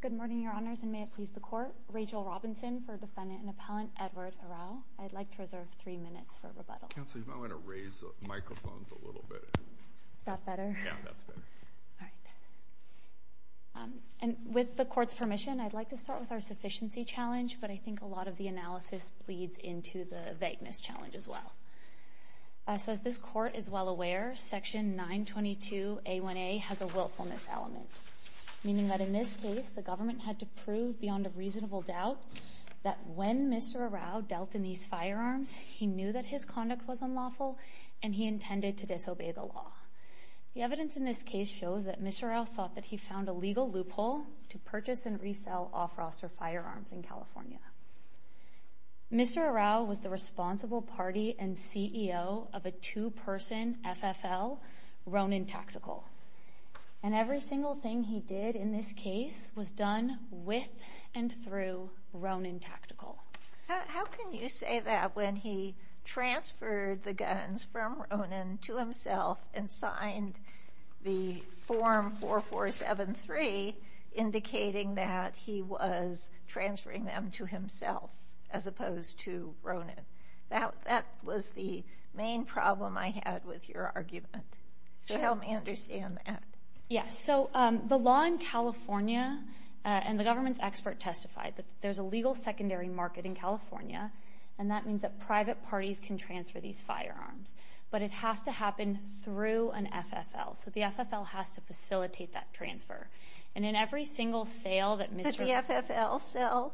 Good morning, Your Honors, and may it please the Court. Rachel Robinson for Defendant and Appellant Edward Arao. I'd like to reserve three minutes for rebuttal. Counsel, you might want to raise the microphones a little bit. Is that better? Yeah, that's better. All right. And with the Court's permission, I'd like to start with our sufficiency challenge, but I think a lot of the analysis bleeds into the vagueness challenge as well. As this Court is well aware, Section 922A1A has a willfulness element, meaning that in this case, the government had to prove beyond a reasonable doubt that when Mr. Arao dealt in these firearms, he knew that his conduct was unlawful and he intended to disobey the law. The evidence in this case shows that Mr. Arao thought that he found a legal loophole to Mr. Arao was the responsible party and CEO of a two-person FFL, Ronin Tactical. And every single thing he did in this case was done with and through Ronin Tactical. How can you say that when he transferred the guns from Ronin to himself and signed the as opposed to Ronin? That was the main problem I had with your argument, so help me understand that. Yeah, so the law in California and the government's expert testified that there's a legal secondary market in California, and that means that private parties can transfer these firearms. But it has to happen through an FFL, so the FFL has to facilitate that transfer. And in every single sale that Mr. Did the FFL sell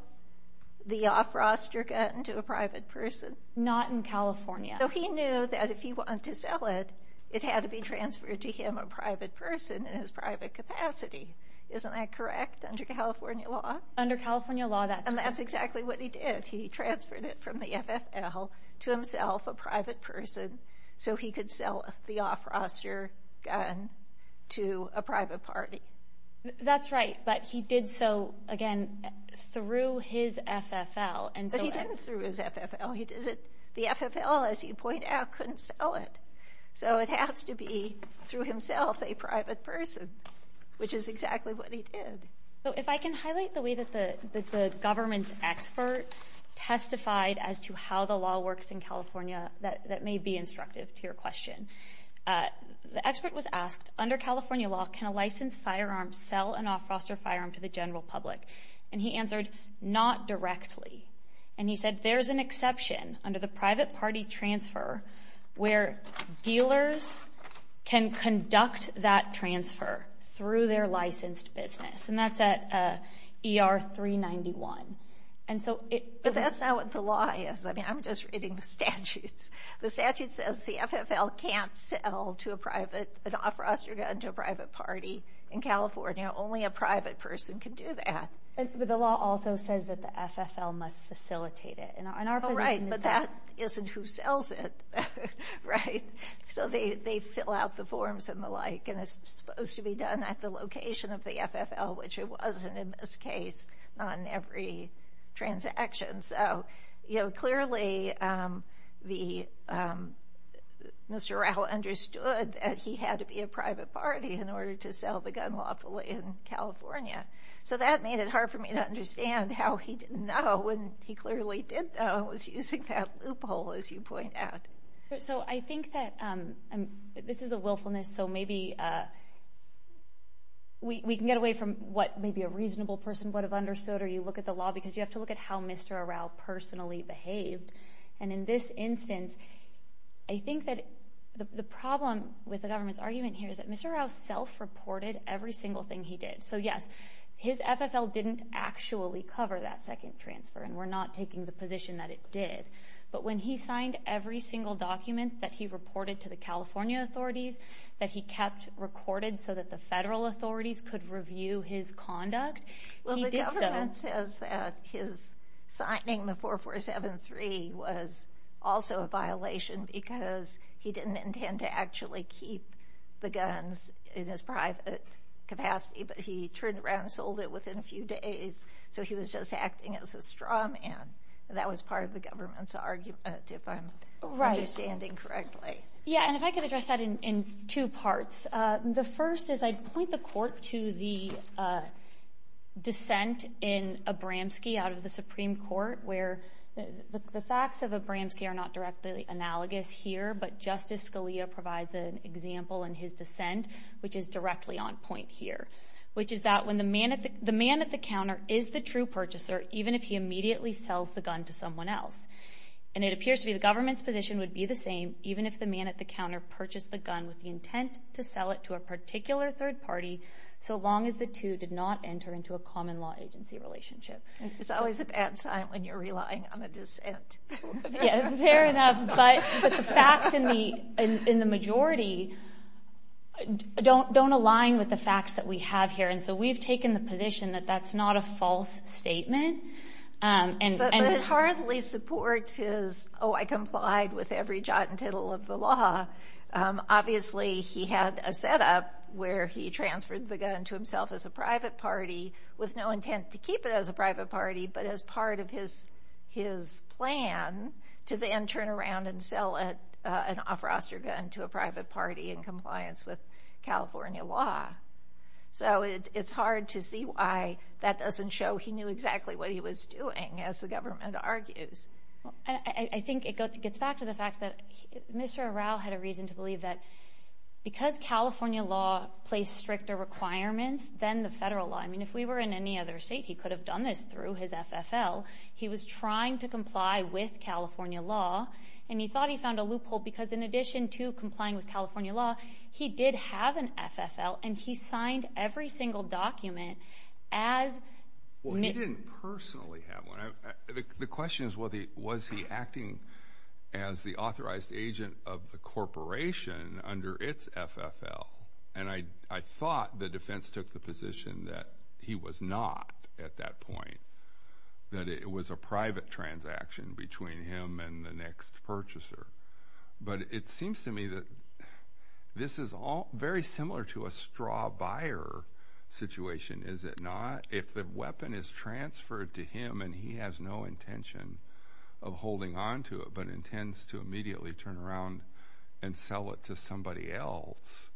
the off-roster gun to a private person? Not in California. So he knew that if he wanted to sell it, it had to be transferred to him, a private person, in his private capacity. Isn't that correct under California law? Under California law, that's correct. And that's exactly what he did. He transferred it from the FFL to himself, a private person, so he could sell the off-roster gun to a private party. That's right, but he did so, again, through his FFL. But he didn't through his FFL. The FFL, as you point out, couldn't sell it. So it has to be through himself, a private person, which is exactly what he did. So if I can highlight the way that the government's expert testified as to how the law works in The expert was asked, under California law, can a licensed firearm sell an off-roster firearm to the general public? And he answered, not directly. And he said, there's an exception under the private party transfer where dealers can conduct that transfer through their licensed business, and that's at ER 391. And so it- But that's not what the law is. I mean, I'm just reading the statutes. The statute says the FFL can't sell to a private- an off-roster gun to a private party in California. Only a private person can do that. But the law also says that the FFL must facilitate it. And our position is that- Oh, right. But that isn't who sells it, right? So they fill out the forms and the like, and it's supposed to be done at the location of the FFL, which it wasn't in this case, not in every transaction. And so, you know, clearly the- Mr. Rao understood that he had to be a private party in order to sell the gun lawfully in California. So that made it hard for me to understand how he didn't know when he clearly did know and was using that loophole, as you point out. So I think that- this is a willfulness, so maybe we can get away from what maybe a reasonable person would have understood, or you look at the law, because you have to look at how Mr. Rao personally behaved. And in this instance, I think that the problem with the government's argument here is that Mr. Rao self-reported every single thing he did. So yes, his FFL didn't actually cover that second transfer, and we're not taking the position that it did. But when he signed every single document that he reported to the California authorities that he kept recorded so that the federal authorities could review his conduct, he did so- Signing the 4473 was also a violation because he didn't intend to actually keep the guns in his private capacity, but he turned around and sold it within a few days. So he was just acting as a straw man. That was part of the government's argument, if I'm understanding correctly. Right. Yeah, and if I could address that in two parts. The first is I'd point the court to the dissent in Abramski out of the Supreme Court, where the facts of Abramski are not directly analogous here, but Justice Scalia provides an example in his dissent, which is directly on point here, which is that when the man at the counter is the true purchaser, even if he immediately sells the gun to someone else. And it appears to be the government's position would be the same, even if the man at the counter did not sell it to a particular third party, so long as the two did not enter into a common law agency relationship. It's always a bad sign when you're relying on a dissent. Yeah, fair enough, but the facts in the majority don't align with the facts that we have here. And so we've taken the position that that's not a false statement. And- But it hardly supports his, oh, I complied with every jot and tittle of the law. Obviously, he had a setup where he transferred the gun to himself as a private party with no intent to keep it as a private party, but as part of his plan to then turn around and sell an off-roster gun to a private party in compliance with California law. So it's hard to see why that doesn't show he knew exactly what he was doing, as the government argues. I think it gets back to the fact that Mr. Arau had a reason to believe that because California law placed stricter requirements than the federal law, I mean, if we were in any other state, he could have done this through his FFL. He was trying to comply with California law, and he thought he found a loophole because in addition to complying with California law, he did have an FFL, and he signed every single document as- Well, he didn't personally have one. The question is, was he acting as the authorized agent of the corporation under its FFL? And I thought the defense took the position that he was not at that point, that it was a private transaction between him and the next purchaser. But it seems to me that this is all very similar to a straw buyer situation, is it not? If the weapon is transferred to him and he has no intention of holding onto it, but intends to immediately turn around and sell it to somebody else,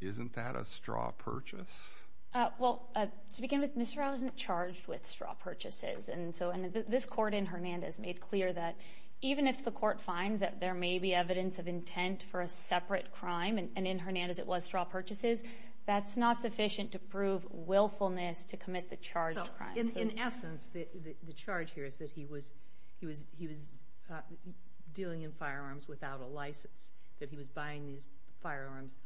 isn't that a straw purchase? Well, to begin with, Mr. Arau isn't charged with straw purchases, and so this court in Hernandez made clear that even if the court finds that there may be evidence of intent for a separate crime, and in Hernandez it was straw purchases, that's not sufficient to prove willfulness to commit the charged crime. In essence, the charge here is that he was dealing in firearms without a license, that he was buying these firearms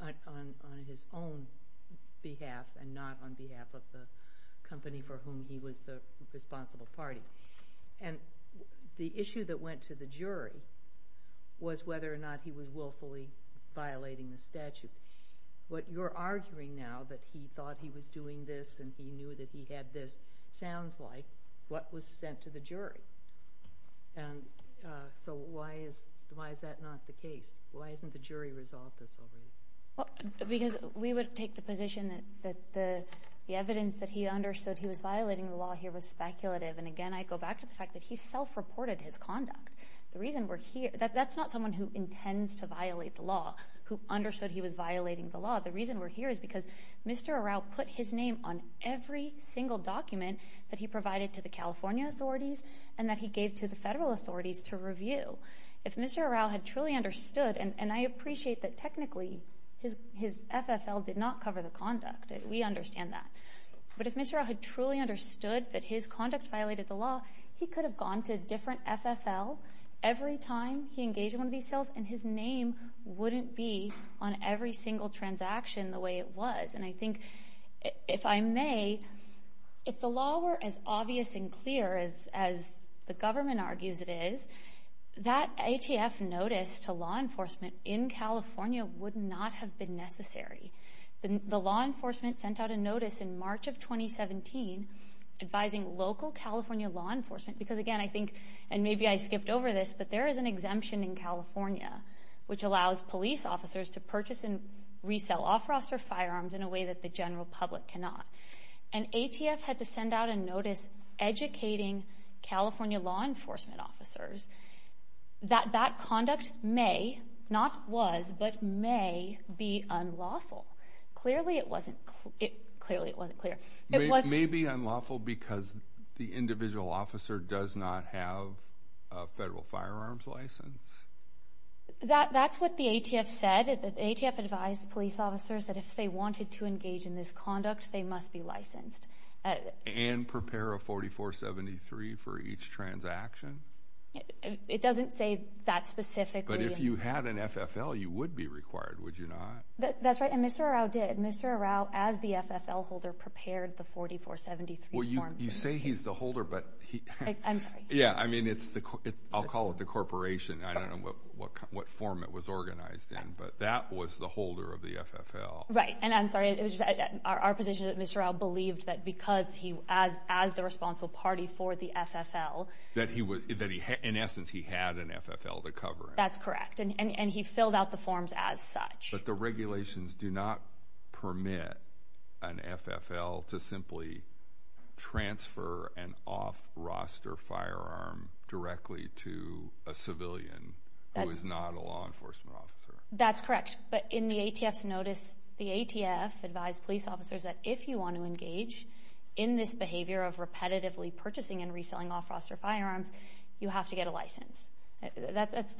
on his own behalf and not on behalf of the company for whom he was the responsible party. And the issue that went to the jury was whether or not he was willfully violating the statute. What you're arguing now, that he thought he was doing this and he knew that he had this, sounds like what was sent to the jury. And so why is that not the case? Why hasn't the jury resolved this already? Because we would take the position that the evidence that he understood he was violating the law here was speculative, and again I go back to the fact that he self-reported his conduct. The reason we're here, that's not someone who intends to violate the law, who understood he was violating the law, the reason we're here is because Mr. Arau put his name on every single document that he provided to the California authorities and that he gave to the federal authorities to review. If Mr. Arau had truly understood, and I appreciate that technically his FFL did not cover the conduct, we understand that, but if Mr. Arau had truly understood that his conduct violated the law, he could have gone to a different FFL every time he engaged in one of these on every single transaction the way it was. And I think, if I may, if the law were as obvious and clear as the government argues it is, that ATF notice to law enforcement in California would not have been necessary. The law enforcement sent out a notice in March of 2017 advising local California law enforcement, because again I think, and maybe I skipped over this, but there is an exemption in California which allows police officers to purchase and resell off-roster firearms in a way that the general public cannot. And ATF had to send out a notice educating California law enforcement officers that that conduct may, not was, but may be unlawful. Clearly it wasn't, clearly it wasn't clear. It was. It may be unlawful because the individual officer does not have a federal firearms license? That's what the ATF said. The ATF advised police officers that if they wanted to engage in this conduct, they must be licensed. And prepare a 4473 for each transaction? It doesn't say that specifically. But if you had an FFL, you would be required, would you not? That's right. And Mr. Arau did. Mr. Arau, as the FFL holder, prepared the 4473 forms. Well, you say he's the holder, but he... I'm sorry. Yeah, I mean, it's the, I'll call it the corporation. I don't know what form it was organized in, but that was the holder of the FFL. Right. And I'm sorry, it was just our position that Mr. Arau believed that because he, as the responsible party for the FFL... That he was, in essence, he had an FFL to cover it. That's correct. And he filled out the forms as such. But the regulations do not permit an FFL to simply transfer an off-roster firearm directly to a civilian who is not a law enforcement officer. That's correct. But in the ATF's notice, the ATF advised police officers that if you want to engage in this behavior of repetitively purchasing and reselling off-roster firearms, you have to get a license. That's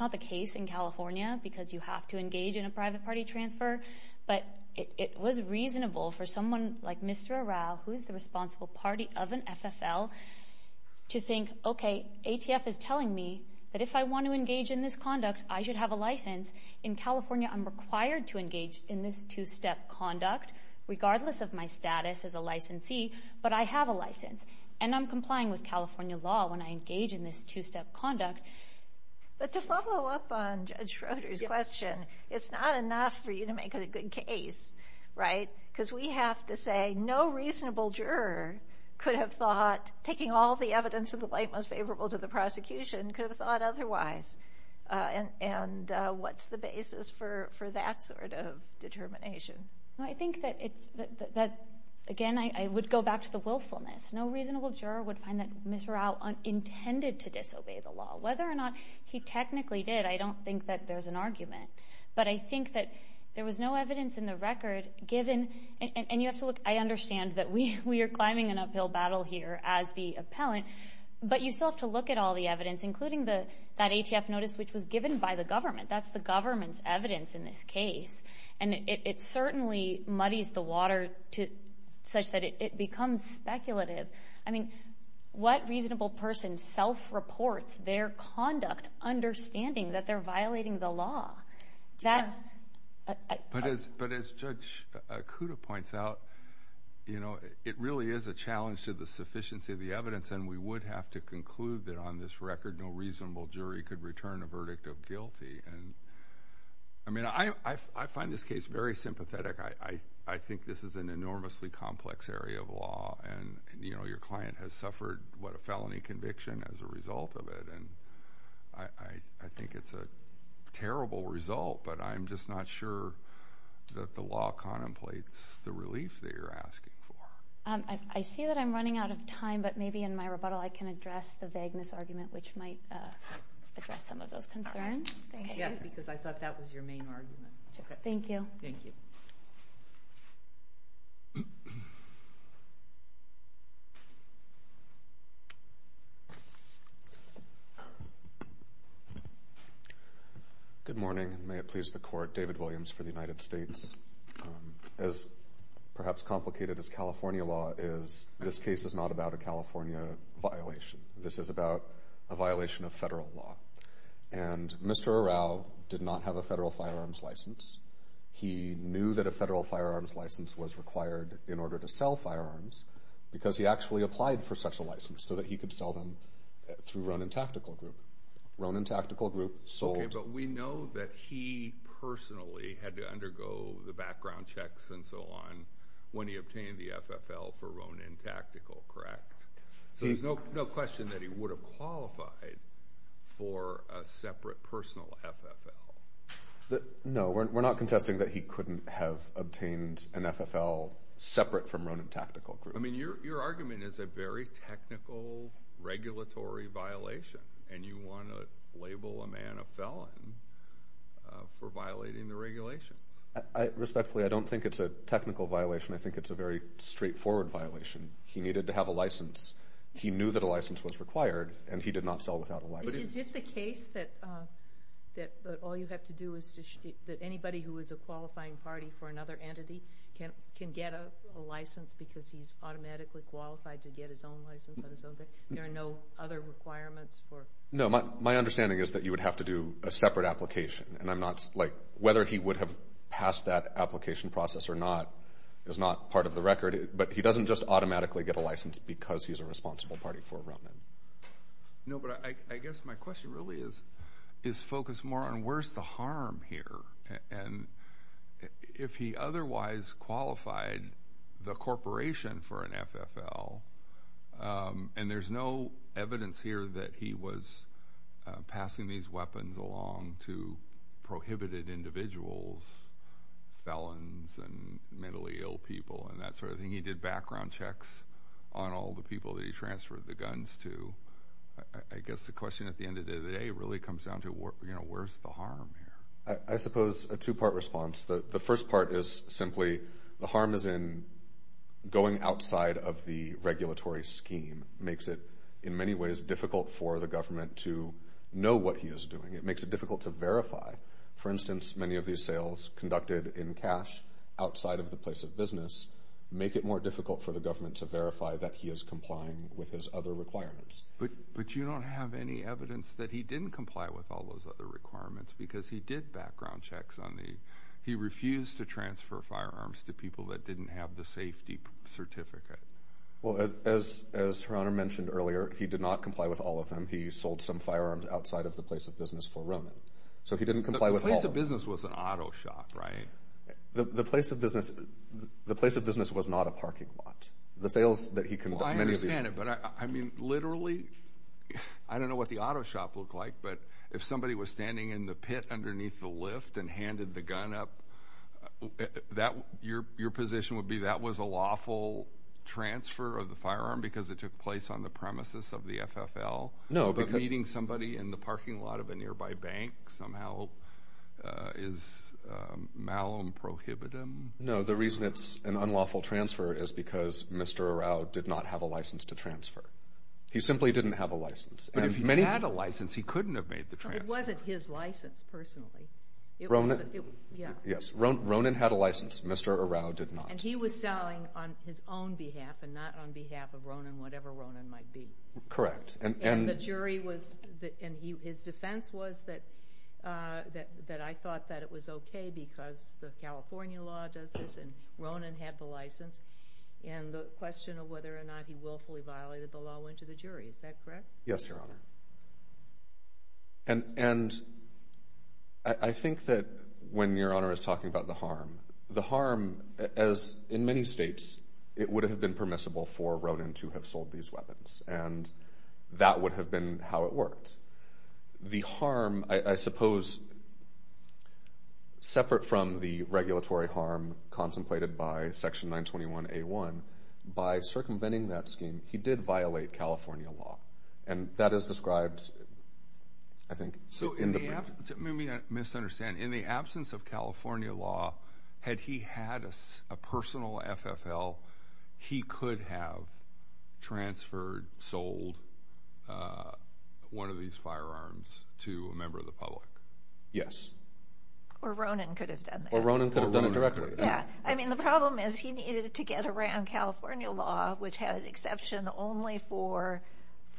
not the case in California, because you have to engage in a private party transfer. But it was reasonable for someone like Mr. Arau, who's the responsible party of an FFL, to think, okay, ATF is telling me that if I want to engage in this conduct, I should have a license. In California, I'm required to engage in this two-step conduct, regardless of my status as a licensee, but I have a license. And I'm complying with California law when I engage in this two-step conduct. But to follow up on Judge Schroeder's question, it's not enough for you to make a good case, right? Because we have to say no reasonable juror could have thought, taking all the evidence in the light most favorable to the prosecution, could have thought otherwise. And what's the basis for that sort of determination? I think that, again, I would go back to the willfulness. No reasonable juror would find that Mr. Arau intended to disobey the law. Whether or not he technically did, I don't think that there's an argument. But I think that there was no evidence in the record given, and you have to look, I understand that we are climbing an uphill battle here as the appellant, but you still have to look at all the evidence, including that ATF notice which was given by the government. That's the government's evidence in this case. And it certainly muddies the water such that it becomes speculative. I mean, what reasonable person self-reports their conduct understanding that they're violating the law? That's— Yes. But as Judge Kuda points out, you know, it really is a challenge to the sufficiency of the evidence, and we would have to conclude that on this record, no reasonable jury could return a verdict of guilty. And, I mean, I find this case very sympathetic. I think this is an enormously complex area of law, and you know, your client has suffered what a felony conviction as a result of it, and I think it's a terrible result, but I'm just not sure that the law contemplates the relief that you're asking for. I see that I'm running out of time, but maybe in my rebuttal I can address the vagueness argument which might address some of those concerns. Thank you. Yes, because I thought that was your main argument. Thank you. Thank you. Good morning. May it please the Court. David Williams for the United States. As perhaps complicated as California law is, this case is not about a California violation. This is about a violation of federal law. And Mr. Arau did not have a federal firearms license. He knew that a federal firearms license was required in order to sell firearms, because he actually applied for such a license so that he could sell them through Ronin Tactical Group. Ronin Tactical Group sold... Okay, but we know that he personally had to undergo the background checks and so on when he obtained the FFL for Ronin Tactical, correct? So there's no question that he would have qualified for a separate, personal FFL? No, we're not contesting that he couldn't have obtained an FFL separate from Ronin Tactical Group. I mean, your argument is a very technical, regulatory violation, and you want to label a man a felon for violating the regulations. Respectfully, I don't think it's a technical violation. I think it's a very straightforward violation. He needed to have a license. He knew that a license was required, and he did not sell without a license. But is it the case that all you have to do is to... That anybody who is a qualifying party for another entity can get a license because he's automatically qualified to get his own license on his own, that there are no other requirements for... No, my understanding is that you would have to do a separate application, and I'm not... Whether he would have passed that application process or not is not part of the record. But he doesn't just automatically get a license because he's a responsible party for Ronin. No, but I guess my question really is focused more on where's the harm here? And if he otherwise qualified the corporation for an FFL, and there's no evidence here that he was passing these weapons along to prohibited individuals, felons and mentally ill people and that sort of thing, he did background checks on all the people that he transferred the guns to. I guess the question at the end of the day really comes down to where's the harm here? I suppose a two-part response. The first part is simply the harm is in going outside of the regulatory scheme, makes it in many ways difficult for the government to know what he is doing. It makes it difficult to verify. For instance, many of these sales conducted in cash outside of the place of business make it more difficult for the government to verify that he is complying with his other requirements. But you don't have any evidence that he didn't comply with all those other requirements because he did background checks on the... He refused to transfer firearms to people that didn't have the safety certificate. Well, as Her Honor mentioned earlier, he did not comply with all of them. He sold some firearms outside of the place of business for Ronin. So he didn't comply with all of them. But the place of business was an auto shop, right? The place of business was not a parking lot. The sales that he conducted... Well, I understand it. But I mean, literally, I don't know what the auto shop looked like, but if somebody was standing in the pit underneath the lift and handed the gun up, your position would be that was a lawful transfer of the firearm because it took place on the premises of the bank. Somehow, is malum prohibitum? No, the reason it's an unlawful transfer is because Mr. Arau did not have a license to transfer. He simply didn't have a license. But if he had a license, he couldn't have made the transfer. It wasn't his license, personally. Yes. Ronin had a license. Mr. Arau did not. And he was selling on his own behalf and not on behalf of Ronin, whatever Ronin might be. Correct. And the jury was... And his defense was that I thought that it was okay because the California law does this and Ronin had the license, and the question of whether or not he willfully violated the law went to the jury. Is that correct? Yes, Your Honor. And I think that when Your Honor is talking about the harm, the harm as in many states, it would have been permissible for Ronin to have sold these weapons. And that would have been how it worked. The harm, I suppose, separate from the regulatory harm contemplated by Section 921A1, by circumventing that scheme, he did violate California law. And that is described, I think... So in the absence... Let me misunderstand. Ronin could have sold one of these firearms to a member of the public. Yes. Or Ronin could have done that. Or Ronin could have done it directly. Yeah. I mean, the problem is he needed to get around California law, which had an exception only for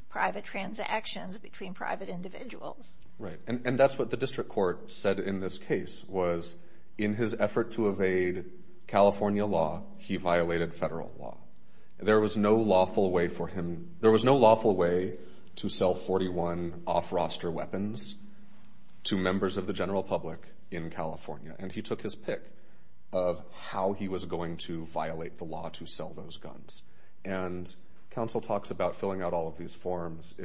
private transactions between private individuals. Right. And that's what the district court said in this case was in his effort to evade California law, he violated federal law. There was no lawful way for him... There was no lawful way to sell 41 off-roster weapons to members of the general public in California. And he took his pick of how he was going to violate the law to sell those guns. And counsel talks about filling out all of these forms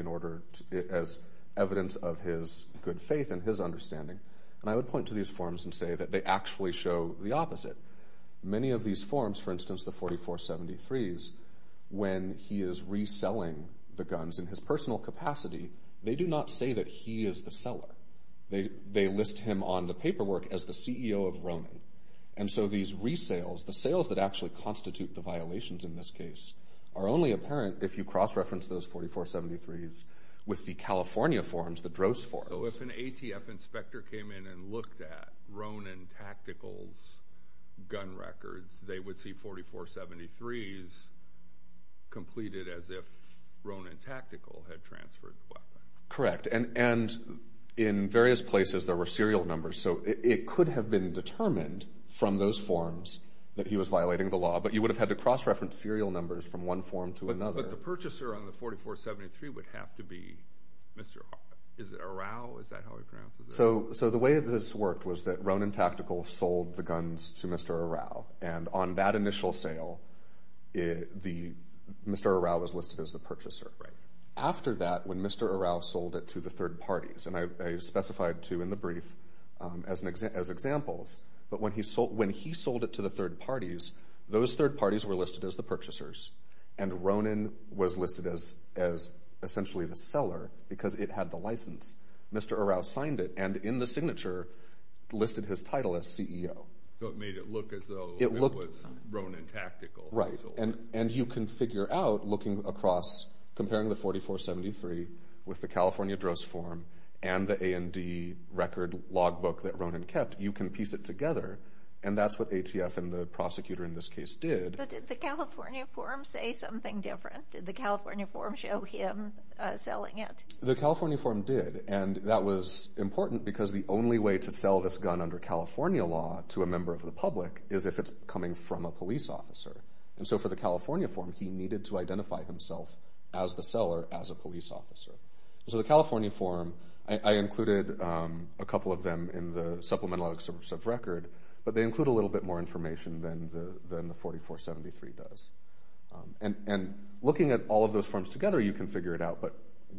as evidence of his good faith and his understanding. And I would point to these forms and say that they actually show the opposite. Many of these forms, for instance, the 4473s, when he is reselling the guns in his personal capacity, they do not say that he is the seller. They list him on the paperwork as the CEO of Ronin. And so these resales, the sales that actually constitute the violations in this case, are only apparent if you cross-reference those 4473s with the California forms, the DROS forms. So if an ATF inspector came in and looked at Ronin Tactical's gun records, they would see 4473s completed as if Ronin Tactical had transferred the weapon. Correct. And in various places, there were serial numbers. So it could have been determined from those forms that he was violating the law. But you would have had to cross-reference serial numbers from one form to another. But the purchaser on the 4473 would have to be Mr. Arrau? Is that how he pronounces it? So the way this worked was that Ronin Tactical sold the guns to Mr. Arrau. And on that initial sale, Mr. Arrau was listed as the purchaser. After that, when Mr. Arrau sold it to the third parties, and I specified two in the brief as examples, but when he sold it to the third parties, those third parties were listed as the purchasers. And Ronin was listed as essentially the seller, because it had the license. Mr. Arrau signed it, and in the signature, listed his title as CEO. So it made it look as though it was Ronin Tactical that sold it. Right. And you can figure out, looking across, comparing the 4473 with the California dross form and the A&D record logbook that Ronin kept, you can piece it together. And that's what ATF and the prosecutor in this case did. But did the California form say something different? Did the California form show him selling it? The California form did, and that was important because the only way to sell this gun under California law to a member of the public is if it's coming from a police officer. And so for the California form, he needed to identify himself as the seller, as a police officer. So the California form, I included a couple of them in the supplemental excerpts of record, but they include a little bit more information than the 4473 does. And looking at all of those forms together, you can figure it out, but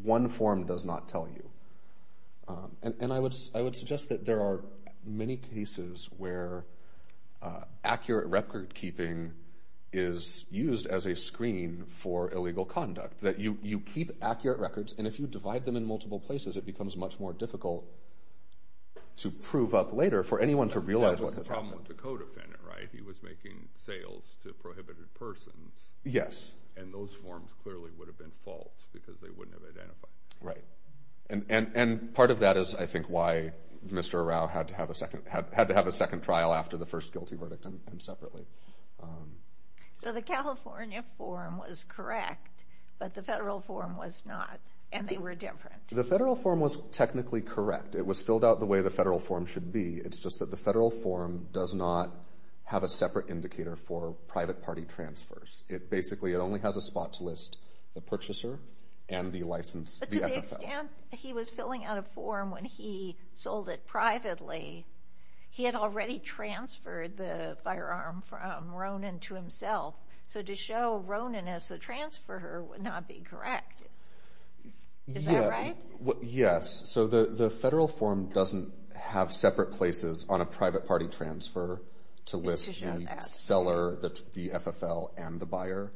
one form does not tell you. And I would suggest that there are many cases where accurate record keeping is used as a screen for illegal conduct, that you keep accurate records, and if you divide them in the right places, you can see what has happened. That was the problem with the co-defendant, right? He was making sales to prohibited persons, and those forms clearly would have been false because they wouldn't have identified him. And part of that is, I think, why Mr. Arau had to have a second trial after the first guilty verdict and separately. So the California form was correct, but the federal form was not, and they were different. The federal form was technically correct. It was filled out the way the federal form should be. It's just that the federal form does not have a separate indicator for private party transfers. It basically, it only has a spot to list the purchaser and the license, the FFL. But to the extent he was filling out a form when he sold it privately, he had already transferred the firearm from Ronan to himself. So to show Ronan as the transfer, would not be correct. Is that right? Yes. So the federal form doesn't have separate places on a private party transfer to list the seller, the FFL, and the buyer.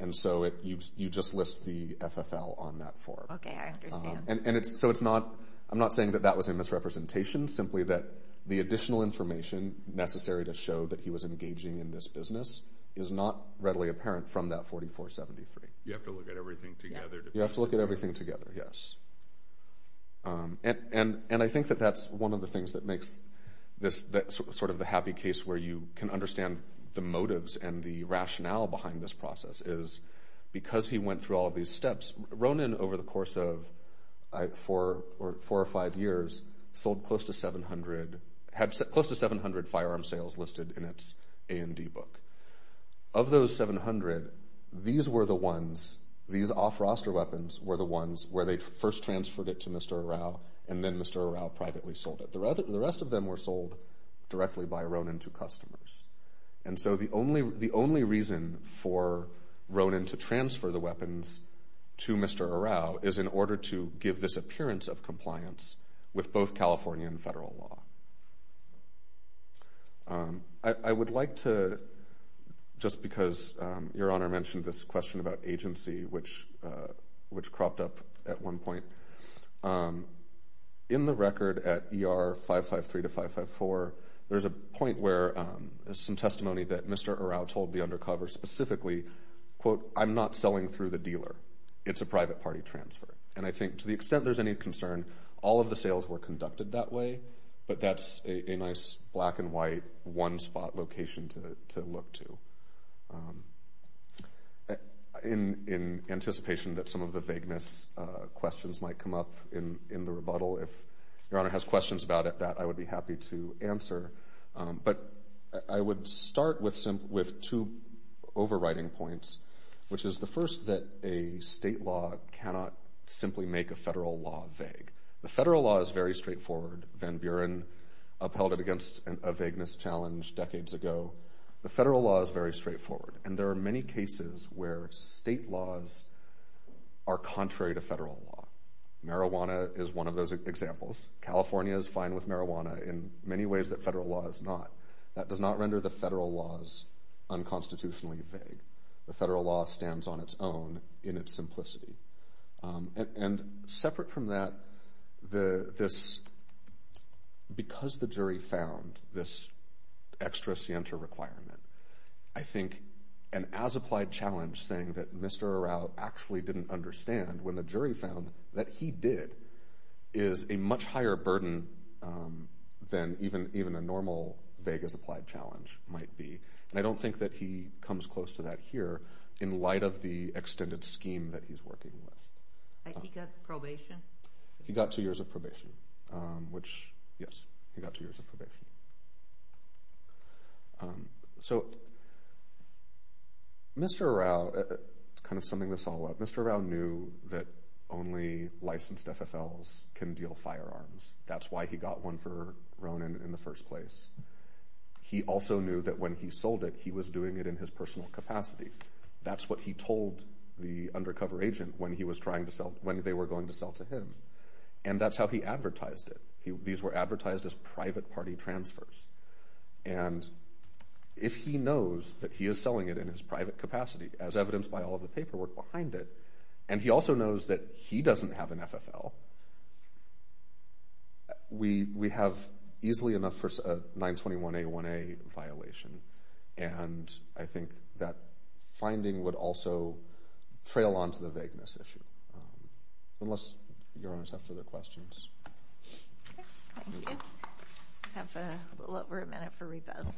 And so you just list the FFL on that form. Okay, I understand. And so it's not, I'm not saying that that was a misrepresentation, simply that the additional information necessary to show that he was engaging in this business is not readily apparent from that 4473. You have to look at everything together to... You have to look at everything together, yes. And I think that that's one of the things that makes this sort of the happy case where you can understand the motives and the rationale behind this process is because he went through all of these steps, Ronan over the course of four or five years sold close to 700, had close to 700 firearm sales listed in its A&D book. Of those 700, these were the ones, these off-roster weapons were the ones where they first transferred it to Mr. Arau, and then Mr. Arau privately sold it. The rest of them were sold directly by Ronan to customers. And so the only reason for Ronan to transfer the weapons to Mr. Arau is in order to give this appearance of compliance with both California and federal law. I would like to, just because Your Honor mentioned this question about agency, which cropped up at one point. In the record at ER 553 to 554, there's a point where some testimony that Mr. Arau told the undercover specifically, quote, I'm not selling through the dealer. It's a private party transfer. And I think to the extent there's any concern, all of the sales were conducted that way, but that's a nice black and white one-spot location to look to. In anticipation that some of the vagueness questions might come up in the rebuttal, if Your Honor has questions about it, that I would be happy to answer. But I would start with two overriding points, which is the first that a state law cannot simply make a federal law vague. The federal law is very straightforward. Van Buren upheld it against a vagueness challenge decades ago. The federal law is very straightforward. And there are many cases where state laws are contrary to federal law. Marijuana is one of those examples. California is fine with marijuana in many ways that federal law is not. That does not render the federal laws unconstitutionally vague. The federal law stands on its own in its simplicity. And separate from that, because the jury found this extra scienter requirement, I think an as-applied challenge saying that Mr. Araujo actually didn't understand when the jury found that he did is a much higher burden than even a normal vague as-applied challenge might be. And I don't think that he comes close to that here in light of the extended scheme that he's working with. He got probation? He got two years of probation, which, yes, he got two years of probation. So Mr. Araujo, kind of summing this all up, Mr. Araujo knew that only licensed FFLs can deal firearms. That's why he got one for Ronan in the first place. He also knew that when he sold it, he was doing it in his personal capacity. That's what he told the undercover agent when they were going to sell to him. And that's how he advertised it. These were advertised as private party transfers. And if he knows that he is selling it in his private capacity, as evidenced by all of the paperwork behind it, and he also knows that he doesn't have an FFL, we have easily enough for a 921A1A violation. And I think that finding would also trail onto the vagueness issue. Unless your honors have further questions. Thank you. We have a little over a minute for rebuttal.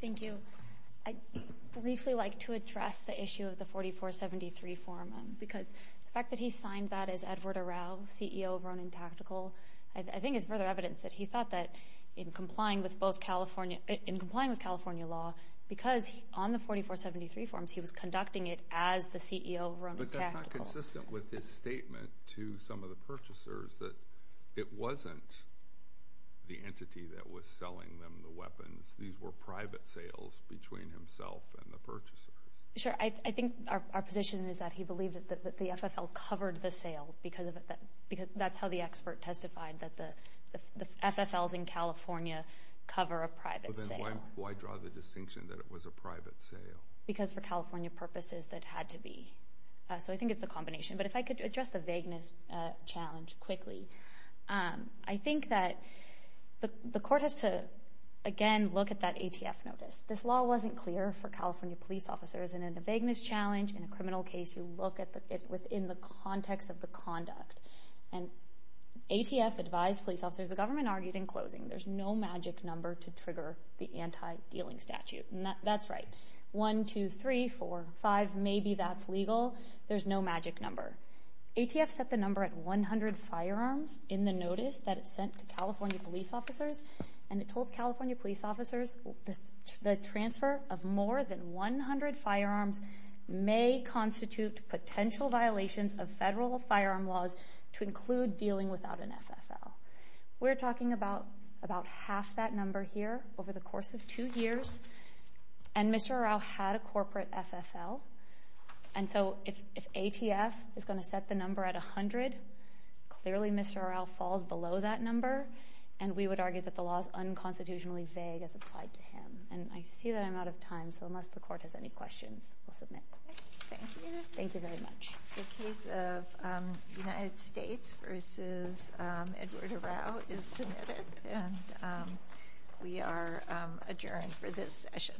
Thank you. I'd briefly like to address the issue of the 4473 form, because the fact that he signed that as Edward Araujo, CEO of Ronan Tactical, I think is further evidence that he thought that in complying with California law, because on the 4473 forms, he was conducting it as the CEO of Ronan Tactical. But that's not consistent with his statement to some of the purchasers, that it wasn't the entity that was selling them the weapons. These were private sales between himself and the purchasers. Sure. I think our position is that he believed that the FFL covered the sale, because that's how the expert testified, that the FFLs in California cover a private sale. Then why draw the distinction that it was a private sale? Because for California purposes, it had to be. So I think it's a combination. But if I could address the vagueness challenge quickly. I think that the court has to, again, look at that ATF notice. This law wasn't clear for California police officers, and in a vagueness challenge, in a criminal case, you look at it within the context of the conduct. And ATF advised police officers, the government argued in closing, there's no magic number to trigger the anti-dealing statute. That's right. One, two, three, four, five, maybe that's legal. There's no magic number. ATF set the number at 100 firearms in the notice that it sent to California police officers, and it told California police officers, the transfer of more than 100 firearms may constitute potential violations of federal firearm laws to include dealing without an FFL. We're talking about half that number here over the course of two years, and Mr. Arau had a corporate FFL. And so if ATF is going to set the number at 100, clearly Mr. Arau falls below that number, and we would argue that the law is unconstitutionally vague as applied to him. And I see that I'm out of time, so unless the court has any questions, I'll submit. Thank you. Thank you very much. The case of United States versus Edward Arau is submitted, and we are adjourned for this session.